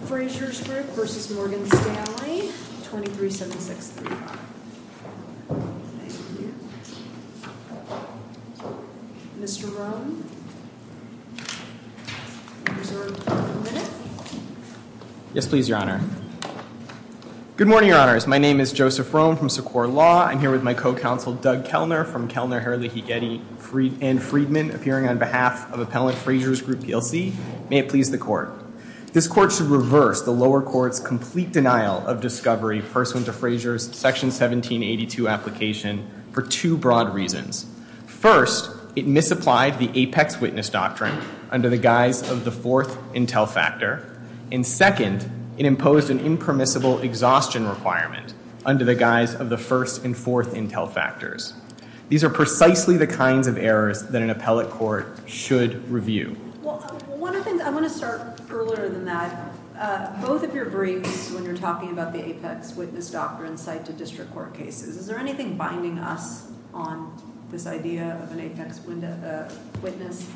Frasers Group v. Morgan Stanley, 237635. Thank you. Mr. Rohn, you're reserved for one minute. Yes, please, Your Honor. Good morning, Your Honors. My name is Joseph Rohn from Sequoia Law. I'm here with my co-counsel Doug Kellner from Kellner, Hurley, Higuetti, and Friedman appearing on behalf of Appellant Frasers Group PLC. May it please the Court. This Court should reverse the lower court's complete denial of discovery, pursuant to Fraser's Section 1782 application, for two broad reasons. First, it misapplied the apex witness doctrine under the guise of the fourth intel factor. And second, it imposed an impermissible exhaustion requirement under the guise of the first and fourth intel factors. These are precisely the kinds of errors that an appellate court should review. Well, one of the things, I want to start earlier than that. Both of your briefs, when you're talking about the apex witness doctrine, cite to district court cases. Is there anything binding us on this idea of an apex witness?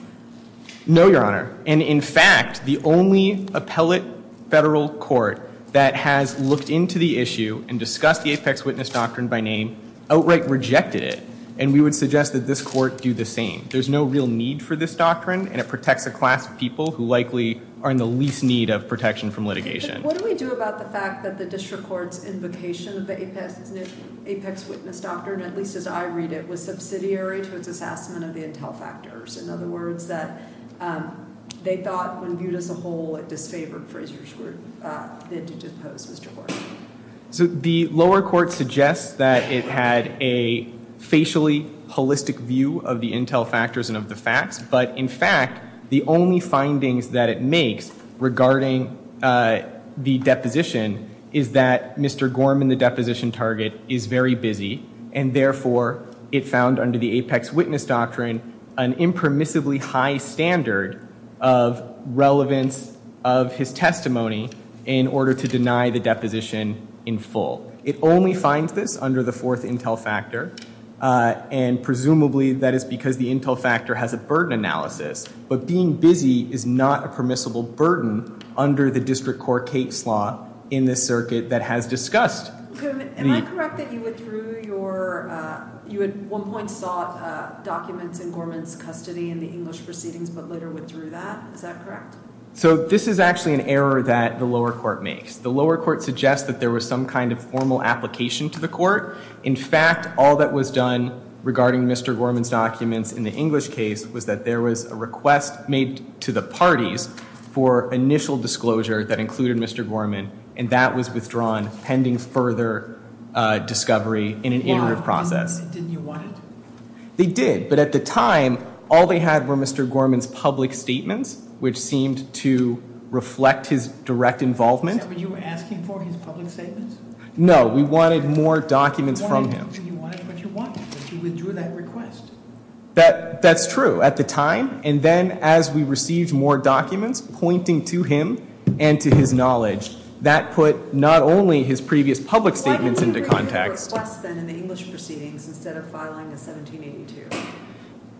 No, Your Honor. And in fact, the only appellate federal court that has looked into the issue and discussed the apex witness doctrine by name outright rejected it. And we would suggest that this court do the same. There's no real need for this doctrine, and it protects a class of people who likely are in the least need of protection from litigation. What do we do about the fact that the district court's invocation of the apex witness doctrine, at least as I read it, was subsidiary to its assessment of the intel factors? In other words, that they thought, when viewed as a whole, it disfavored Fraser's bid to depose Mr. Gordon? So the lower court suggests that it had a facially holistic view of the intel factors and of the facts. But in fact, the only findings that it makes regarding the deposition is that Mr. Gorman, the deposition target, is very busy. And therefore, it found under the apex witness doctrine, an impermissibly high standard of relevance of his testimony in order to deny the deposition in full. It only finds this under the fourth intel factor. And presumably, that is because the intel factor has a burden analysis. But being busy is not a permissible burden under the district court case law in this circuit that has discussed. Am I correct that you withdrew your, you at one point sought documents in Gorman's custody in the English proceedings, but later withdrew that? Is that correct? So this is actually an error that the lower court makes. The lower court suggests that there was some kind of formal application to the court. In fact, all that was done regarding Mr. Gorman's documents in the English case was that there was a request made to the parties for initial disclosure that included Mr. Gorman. And that was withdrawn pending further discovery in an iterative process. Didn't you want it? They did. But at the time, all they had were Mr. Gorman's public statements, which seemed to reflect his direct involvement. But you were asking for his public statements? No, we wanted more documents from him. You wanted what you wanted, but you withdrew that request. That's true. At the time, and then as we received more documents pointing to him and to his knowledge, that put not only his previous public statements into context. Why did you withdraw the request then in the English proceedings instead of filing a 1782?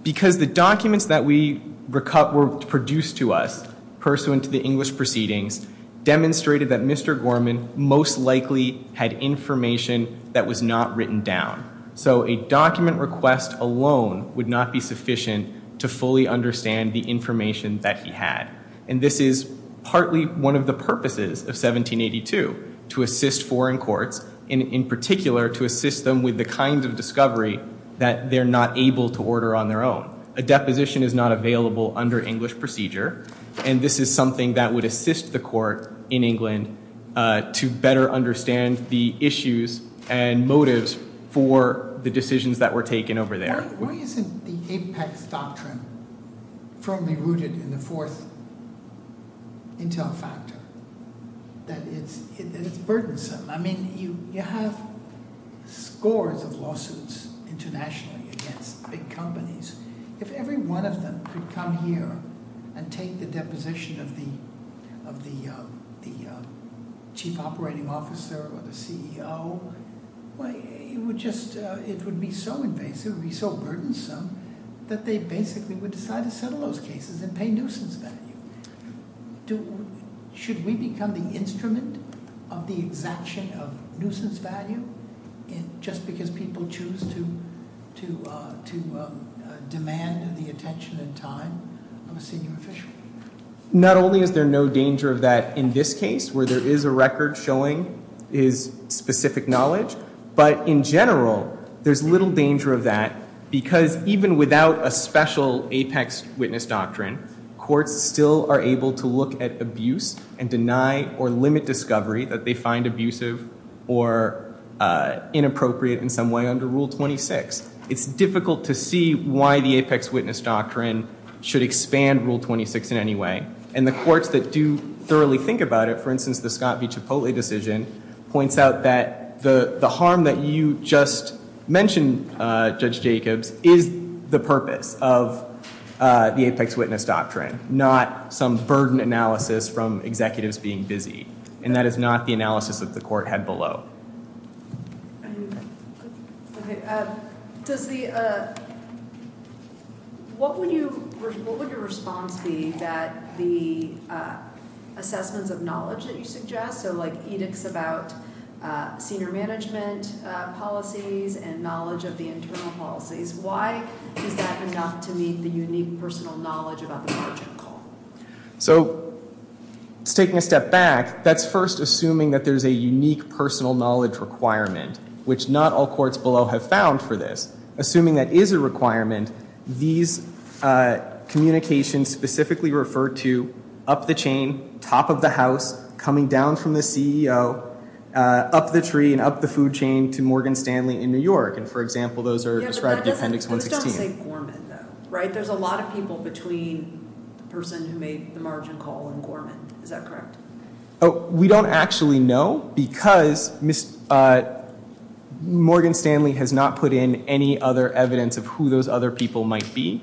Because the documents that were produced to us pursuant to the English proceedings demonstrated that Mr. Gorman most likely had information that was not written down. So a document request alone would not be sufficient to fully understand the information that he had. And this is partly one of the purposes of 1782, to assist foreign courts, in particular to assist them with the kind of discovery that they're not able to order on their own. A deposition is not available under English procedure, and this is something that would assist the court in England to better understand the issues and motives for the decisions that were taken over there. Why isn't the Apex Doctrine firmly rooted in the fourth intel factor? That it's burdensome. I mean, you have scores of lawsuits internationally against big companies. If every one of them could come here and take the deposition of the chief operating officer or the CEO, it would be so invasive, it would be so burdensome, that they basically would decide to settle those cases and pay nuisance value. Should we become the instrument of the exaction of nuisance value, just because people choose to demand the attention and time of a senior official? Not only is there no danger of that in this case, where there is a record showing his specific knowledge, but in general, there's little danger of that because even without a special Apex Witness Doctrine, courts still are able to look at abuse and deny or limit discovery that they find abusive or inappropriate in some way under Rule 26. It's difficult to see why the Apex Witness Doctrine should expand Rule 26 in any way. And the courts that do thoroughly think about it, for instance, the Scott v. Cipolle decision, points out that the harm that you just mentioned, Judge Jacobs, is the purpose of the Apex Witness Doctrine, not some burden analysis from executives being busy. And that is not the analysis that the court had below. What would your response be that the assessments of knowledge that you suggest, so like edicts about senior management policies and knowledge of the internal policies, why is that enough to meet the unique personal knowledge about the margin call? So, taking a step back, that's first assuming that there's a unique personal knowledge requirement, which not all courts below have found for this. Assuming that is a requirement, these communications specifically refer to up the chain, top of the house, coming down from the CEO, up the tree and up the food chain to Morgan Stanley in New York. And for example, those are described in Appendix 116. Yeah, but that doesn't say Gorman though, right? There's a lot of people between the person who made the margin call and Gorman. Is that correct? We don't actually know because Morgan Stanley has not put in any other evidence of who those other people might be.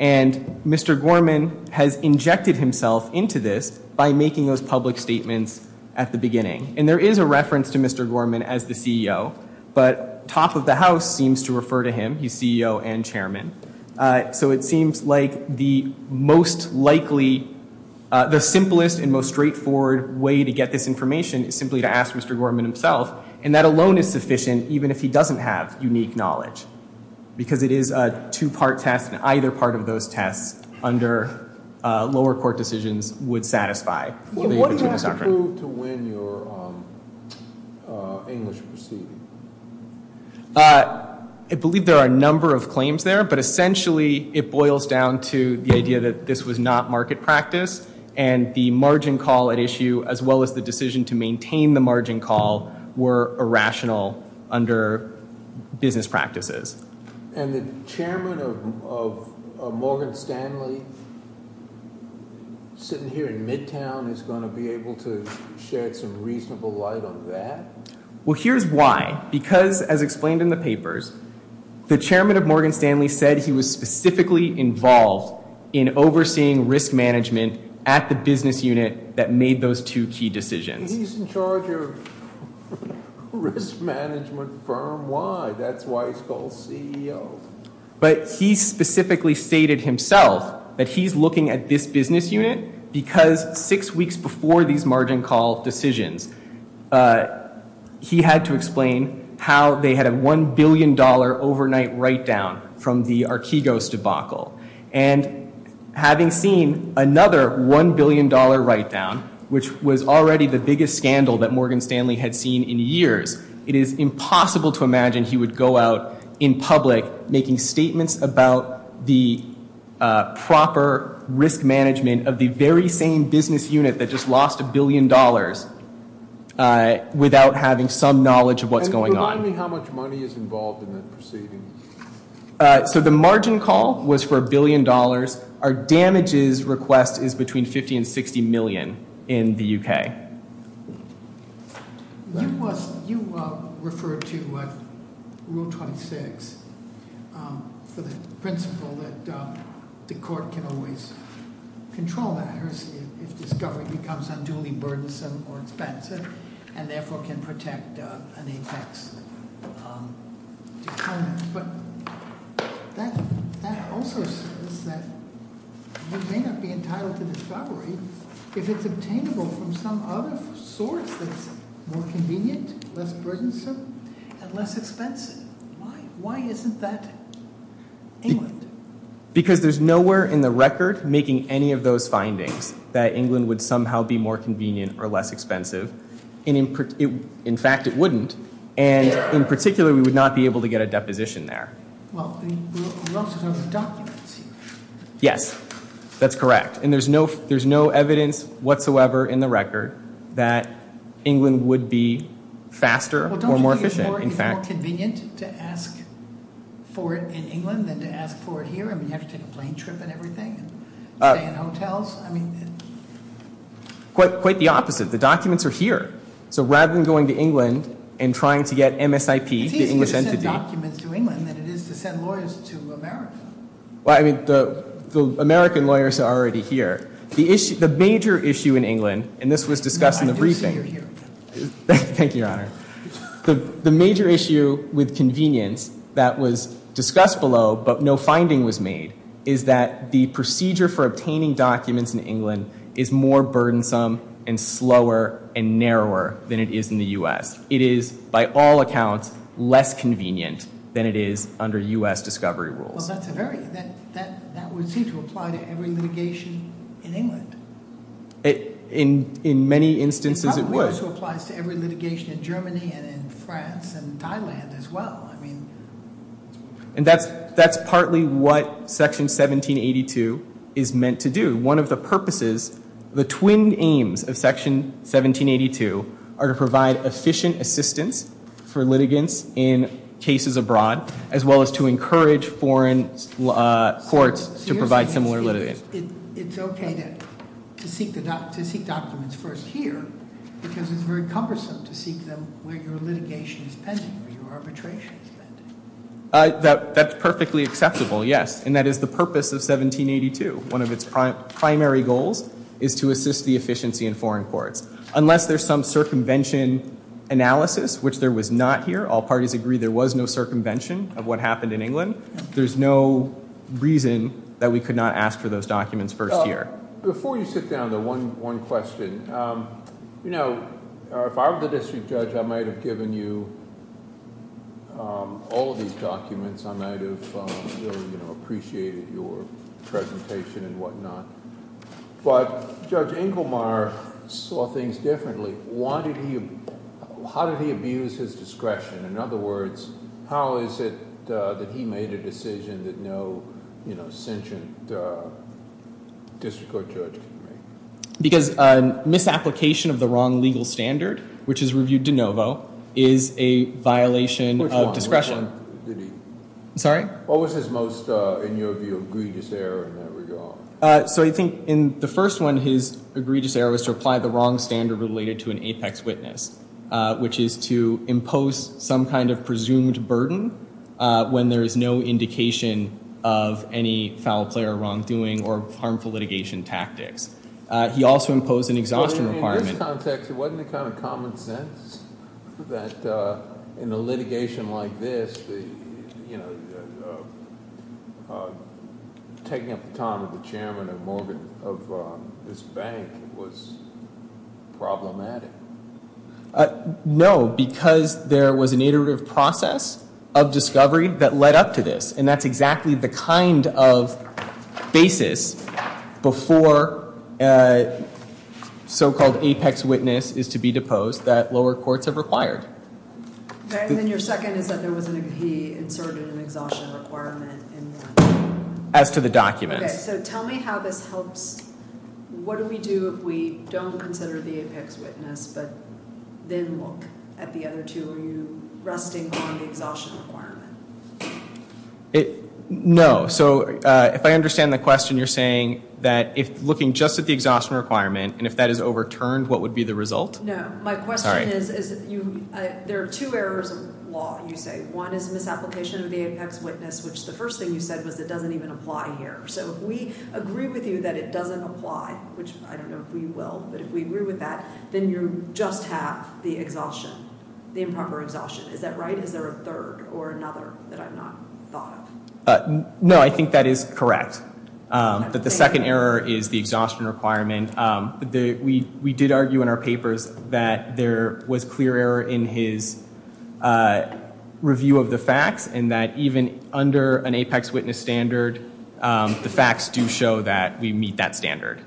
And Mr. Gorman has injected himself into this by making those public statements at the beginning. And there is a reference to Mr. Gorman as the CEO, but top of the house seems to refer to him, he's CEO and chairman. So it seems like the most likely, the simplest and most straightforward way to get this information is simply to ask Mr. Gorman himself. And that alone is sufficient, even if he doesn't have unique knowledge. Because it is a two-part test and either part of those tests under lower court decisions would satisfy. What do you have to prove to win your English proceeding? I believe there are a number of claims there, but essentially it boils down to the idea that this was not market practice and the margin call at issue as well as the decision to maintain the margin call were irrational under business practices. And the chairman of Morgan Stanley sitting here in Midtown is going to be able to shed some reasonable light on that? Well, here's why. Because, as explained in the papers, the chairman of Morgan Stanley said he was specifically involved in overseeing risk management at the business unit that made those two key decisions. He's in charge of risk management firm, why? That's why he's called CEO. But he specifically stated himself that he's looking at this business unit because six weeks before these margin call decisions, he had to explain how they had a $1 billion overnight write down from the Archegos debacle. And having seen another $1 billion write down, which was already the biggest scandal that Morgan Stanley had seen in years, it is impossible to imagine he would go out in public making statements about the proper risk management of the very same business unit that just lost $1 billion without having some knowledge of what's going on. And remind me how much money is involved in that proceeding? So the margin call was for $1 billion. Our damages request is between $50 and $60 million in the UK. You referred to Rule 26 for the principle that the court can always control that. If discovery becomes unduly burdensome or expensive, and therefore can protect an apex. But that also says that we may not be entitled to discovery if it's obtainable from some other source that's more convenient, less burdensome, and less expensive. Why isn't that England? Because there's nowhere in the record making any of those findings that England would somehow be more convenient or less expensive. In fact, it wouldn't. And in particular, we would not be able to get a deposition there. Well, we're also talking about documents here. Yes, that's correct. And there's no evidence whatsoever in the record that England would be faster or more efficient, in fact. Well, don't you think it's more convenient to ask for it in England than to ask for it here? I mean, you have to take a plane trip and everything, and stay in hotels. Quite the opposite. The documents are here. So rather than going to England and trying to get MSIP, the English entity... It's easier to send documents to England than it is to send lawyers to America. Well, I mean, the American lawyers are already here. The major issue in England, and this was discussed in the briefing... No, I do see you're here. Thank you, Your Honor. The major issue with convenience that was discussed below, but no finding was made, is that the procedure for obtaining documents in England is more burdensome and slower and narrower than it is in the U.S. It is, by all accounts, less convenient than it is under U.S. discovery rules. Well, that's a very... That would seem to apply to every litigation in England. In many instances, it would. It probably also applies to every litigation in Germany and in France and Thailand as well. And that's partly what Section 1782 is meant to do. One of the purposes, the twin aims of Section 1782 are to provide efficient assistance for litigants in cases abroad as well as to encourage foreign courts to provide similar litigation. It's okay to seek documents first here because it's very cumbersome to seek them where your litigation is pending, where your arbitration is pending. That's perfectly acceptable, yes. And that is the purpose of 1782, one of its primary goals is to assist the efficiency in foreign courts. Unless there's some circumvention analysis, which there was not here, all parties agree there was no circumvention of what happened in England, there's no reason that we could not ask for those documents first here. Before you sit down, though, one question. You know, if I were the district judge, I might have given you all of these documents. I might have appreciated your presentation and whatnot. But Judge Inglemar saw things differently. How did he abuse his discretion? In other words, how is it that he made a decision that no sentient district court judge can make? Because misapplication of the wrong legal standard, which is reviewed de novo, is a violation of discretion. Sorry? What was his most, in your view, egregious error in that regard? So I think in the first one, his egregious error was to apply the wrong standard related to an apex witness, which is to impose some kind of presumed burden when there is no indication of any foul play or wrongdoing or harmful litigation tactics. He also imposed an exhaustion requirement. In this context, it wasn't the kind of common sense that in a litigation like this, you know, taking up the time of the chairman of Morgan, of this bank, was problematic. No, because there was an iterative process of discovery that led up to this. And that's exactly the kind of basis before so-called apex witness is to be deposed that lower courts have required. And then your second is that he inserted an exhaustion requirement. As to the documents. So tell me how this helps. What do we do if we don't consider the apex witness but then look at the other two? Are you resting on the exhaustion requirement? No. So if I understand the question, you're saying that if looking just at the exhaustion requirement and if that is overturned, what would be the result? No. My question is, there are two errors of law, you say. One is misapplication of the apex witness, which the first thing you said was it doesn't even apply here. So if we agree with you that it doesn't apply, which I don't know if we will, but if we agree with that, then you just have the exhaustion. The improper exhaustion. Is that right? Is there a third or another that I've not thought of? No, I think that is correct. That the second error is the exhaustion requirement. We did argue in our papers that there was clear error in his review of the facts and that even under an apex witness standard, the facts do show that we meet that standard.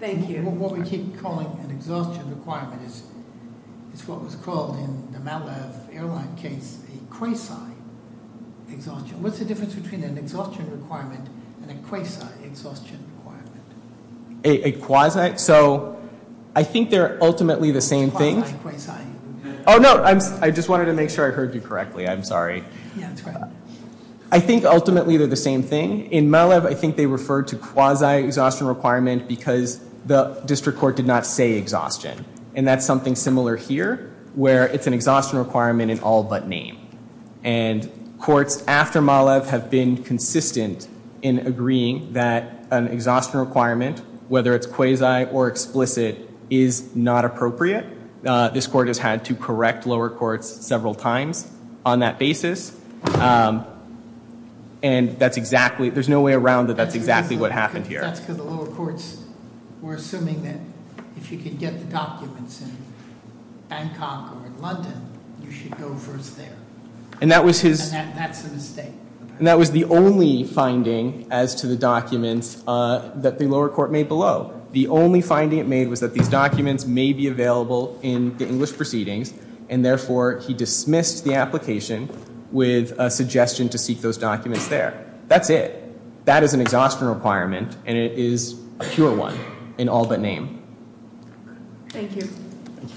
Thank you. What we keep calling an exhaustion requirement is what was called in the Malev airline case a quasi-exhaustion. What's the difference between an exhaustion requirement and a quasi-exhaustion requirement? A quasi? So I think they're ultimately the same thing. Quasi, quasi. Oh, no. I just wanted to make sure I heard you correctly. I'm sorry. Yeah, that's fine. I think ultimately they're the same thing. In Malev, I think they refer to quasi-exhaustion requirement because the district court did not say exhaustion. And that's something similar here where it's an exhaustion requirement in all but name. And courts after Malev have been consistent in agreeing that an exhaustion requirement, whether it's quasi or explicit, is not appropriate. This court has had to correct lower courts several times on that basis. And that's exactly, there's no way around that that's exactly what happened here. That's because the lower courts were assuming that if you could get the documents in Bangkok or in London, you should go first there. And that was his... And that's a mistake. And that was the only finding as to the documents that the lower court made below. The only finding it made was that these documents may be available in the English proceedings and therefore he dismissed the application with a suggestion to seek those documents there. That's it. That is an exhaustion requirement and it is a pure one in all but name. Thank you. Thank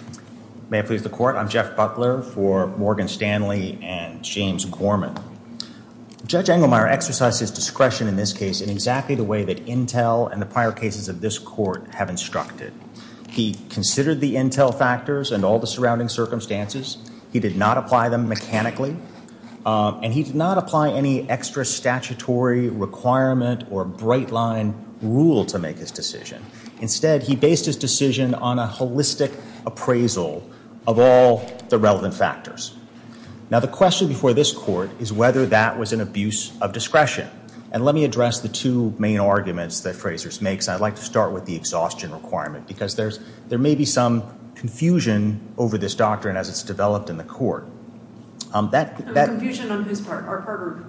you. May it please the court. I'm Jeff Butler for Morgan Stanley and James Gorman. Judge Engelmeyer exercised his discretion in this case in exactly the way that intel and the prior cases of this court have instructed. He considered the intel factors and all the surrounding circumstances. He did not apply them mechanically. And he did not apply any extra statutory requirement or bright line rule to make his decision. Instead, he based his decision on a holistic appraisal of all the relevant factors. Now, the question before this court is whether that was an abuse of discretion. And let me address the two main arguments that Fraser makes. I'd like to start with the exhaustion requirement because there may be some confusion over this doctrine as it's developed in the court. Confusion on whose part? Our part or...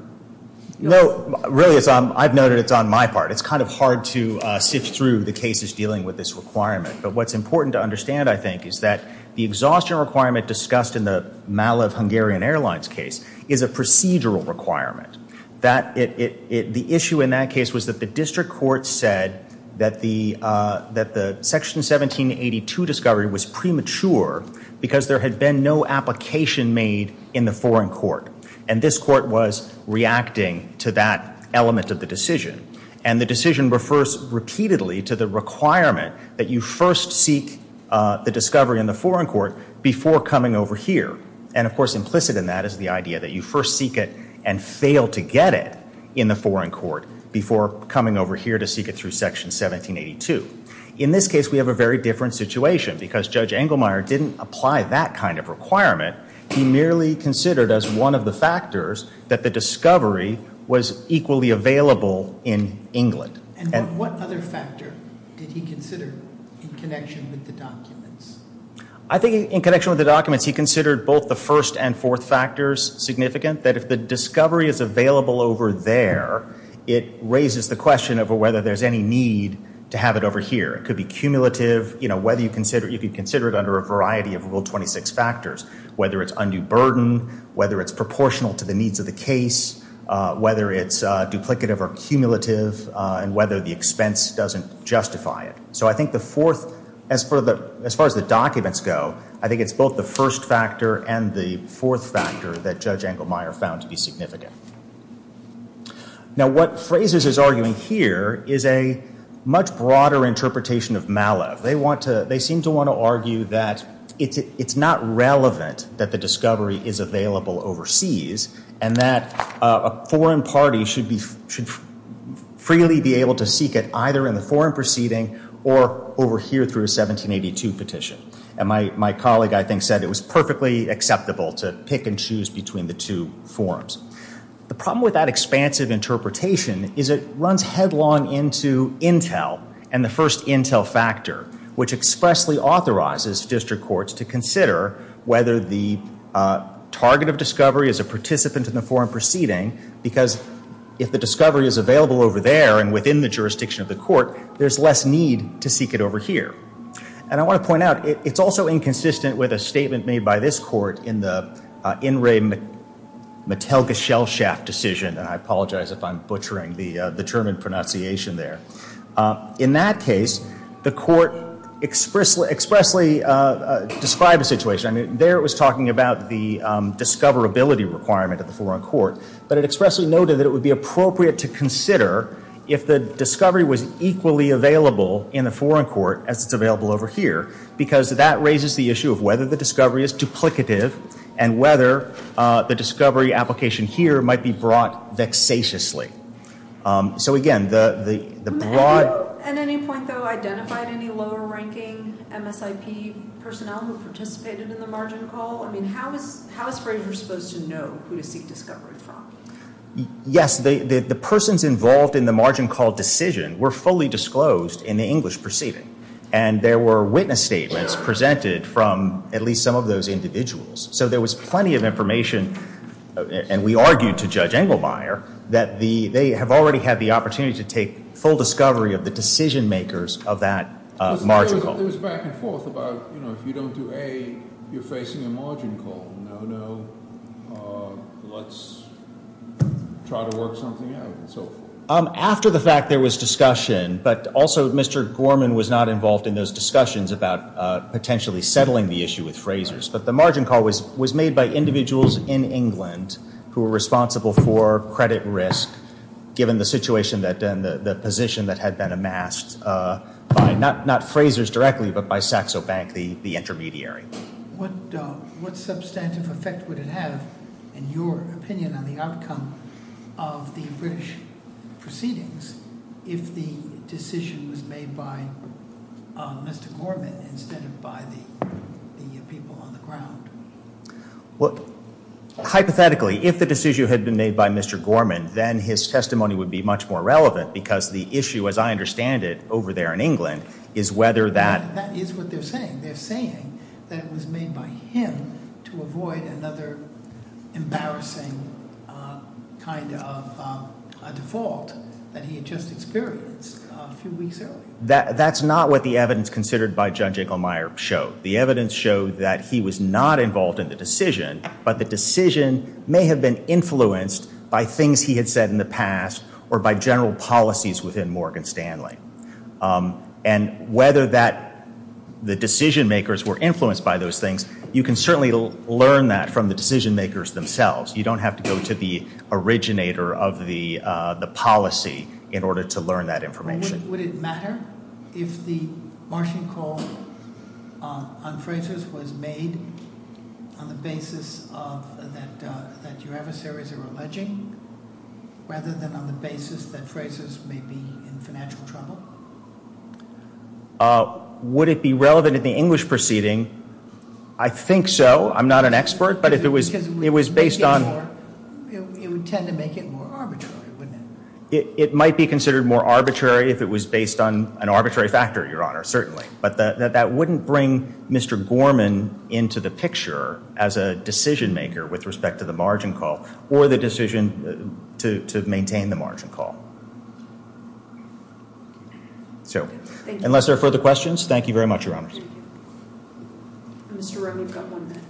No, really, I've noted it's on my part. It's kind of hard to sift through the cases dealing with this requirement. But what's important to understand, I think, is that the exhaustion requirement discussed in the Malev Hungarian Airlines case is a procedural requirement. The issue in that case was that the district court said that the Section 1782 discovery was premature because there had been no application made in the foreign court. And this court was reacting to that element of the decision. And the decision refers repeatedly to the requirement that you first seek the discovery in the foreign court before coming over here. And, of course, implicit in that is the idea that you first seek it and fail to get it in the foreign court before coming over here to seek it through Section 1782. In this case, we have a very different situation because Judge Engelmeyer didn't apply that kind of requirement. He merely considered, as one of the factors, that the discovery was equally available in England. And what other factor did he consider in connection with the documents? I think in connection with the documents he considered both the first and fourth factors significant, that if the discovery is available over there, it raises the question of whether there's any need to have it over here. It could be cumulative. You could consider it under a variety of Rule 26 factors, whether it's undue burden, whether it's proportional to the needs of the case, whether it's duplicative or cumulative, and whether the expense doesn't justify it. So I think the fourth, as far as the documents go, I think it's both the first factor and the fourth factor that Judge Engelmeyer found to be significant. Now what Frazes is arguing here is a much broader interpretation of Malev. They seem to want to argue that it's not relevant that the discovery is available overseas and that a foreign party should freely be able to seek it either in the foreign proceeding or over here through a 1782 petition. And my colleague, I think, said it was perfectly acceptable to pick and choose between the two forms. The problem with that expansive interpretation is it runs headlong into intel and the first intel factor which expressly authorizes district courts to consider whether the target of discovery is a participant in the foreign proceeding because if the discovery is available over there and within the jurisdiction of the court, there's less need to seek it over here. And I want to point out, it's also inconsistent with a statement made by this court in the In Re Mattelgesellschaft decision and I apologize if I'm butchering the German pronunciation there. In that case, the court expressly described the situation. There it was talking about the discoverability requirement of the foreign court but it expressly noted that it would be appropriate to consider if the discovery was equally available in the foreign court as it's available over here because that raises the issue of whether the discovery is duplicative and whether the discovery application here might be brought vexatiously. So again, the broad... Have you at any point though identified any lower ranking MSIP personnel who participated in the margin call? How is Frazier supposed to know who to seek discovery from? Yes, the persons involved in the margin call decision were fully disclosed in the English proceeding and there were witness statements presented from at least some of those individuals. So there was plenty of information and we argued to Judge they have already had the opportunity to take full discovery of the decision makers of that margin call. After the fact there was discussion but also Mr. Gorman was not involved in those discussions about potentially settling the issue with Frazier's but the margin call was made by individuals in England who were responsible for credit risk given the situation and the position that had been amassed by not Frazier's directly but by Saxo Bank, the intermediary. What substantive effect would it have in your opinion on the outcome of the British proceedings if the decision was made by Mr. Gorman instead of by the people on the ground? Well, hypothetically if the decision had been made by Mr. Gorman then his testimony would be much more relevant because the issue as I understand it over there in England is whether that... That is what they're saying. They're saying that it was made by him to avoid another embarrassing kind of default that he had just experienced a few weeks earlier. That's not what the evidence considered by Judge Inglemeyer showed. The evidence showed that he was not involved in the decision but the decision may have been influenced by things he had said in the past or by general policies within Morgan Stanley. And whether that... The decision makers were influenced by those things, you can certainly learn that from the decision makers themselves. You don't have to go to the originator of the policy in order to learn that information. Would it matter if the margin call on Frazer's was made on the basis of that your adversaries are alleging rather than on the basis that Frazer's may be in financial trouble? Would it be relevant in the English proceeding? I think so. I'm not an expert but if it was based on... It would tend to make it more arbitrary, wouldn't it? It might be considered more arbitrary if it was based on an arbitrary factor, Your Honor, certainly. But that wouldn't bring Mr. Gorman into the picture as a decision maker with respect to the margin call or the decision to maintain the margin call. So, unless there are further questions, thank you very much, Your Honors. Mr. Romney, you've got one minute.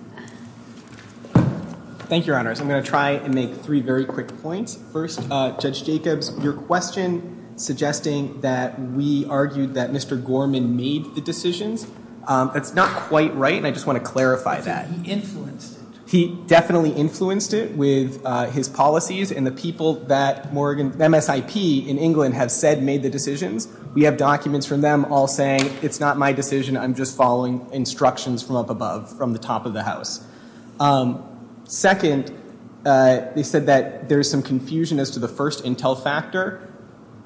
Thank you, Your Honors. I'm going to try and make three very quick points. First, Judge Jacobs, your question suggesting that we argued that Mr. Gorman made the decisions, that's not quite right and I just want to clarify that. I think he influenced it. He definitely influenced it with his policies and the people that MSIP in England have said made the decisions. We have documents from them all saying, it's not my decision, I'm just following instructions from up above, from the top of the House. Second, they said that there's some confusion as to the first intel factor.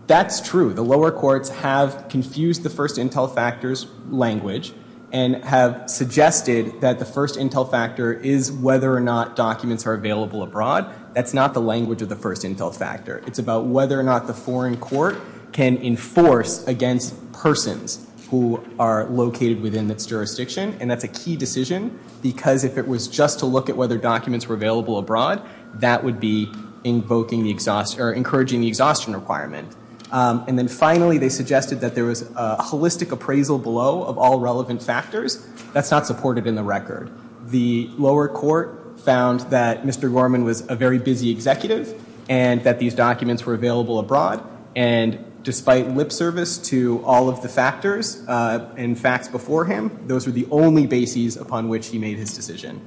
That's true. The lower courts have confused the first intel factors language and have suggested that the first intel factor is whether or not documents are available abroad. That's not the language of the first intel factor. It's about whether or not the foreign court can enforce against persons who are located within its jurisdiction and that's a key decision because if it was just to look at whether documents were available abroad, that would be encouraging the exhaustion requirement. And then finally they suggested that there was a holistic appraisal below of all relevant factors. That's not supported in the record. The lower court found that Mr. Gorman was a very busy executive and that these documents were available abroad and despite lip service to all of the factors and facts before him, those were the only bases upon which he made his decision.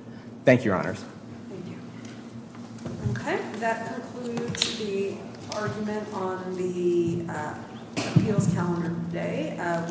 Thank you, Your Honors. Thank you. Okay, that concludes the argument on the appeals calendar today.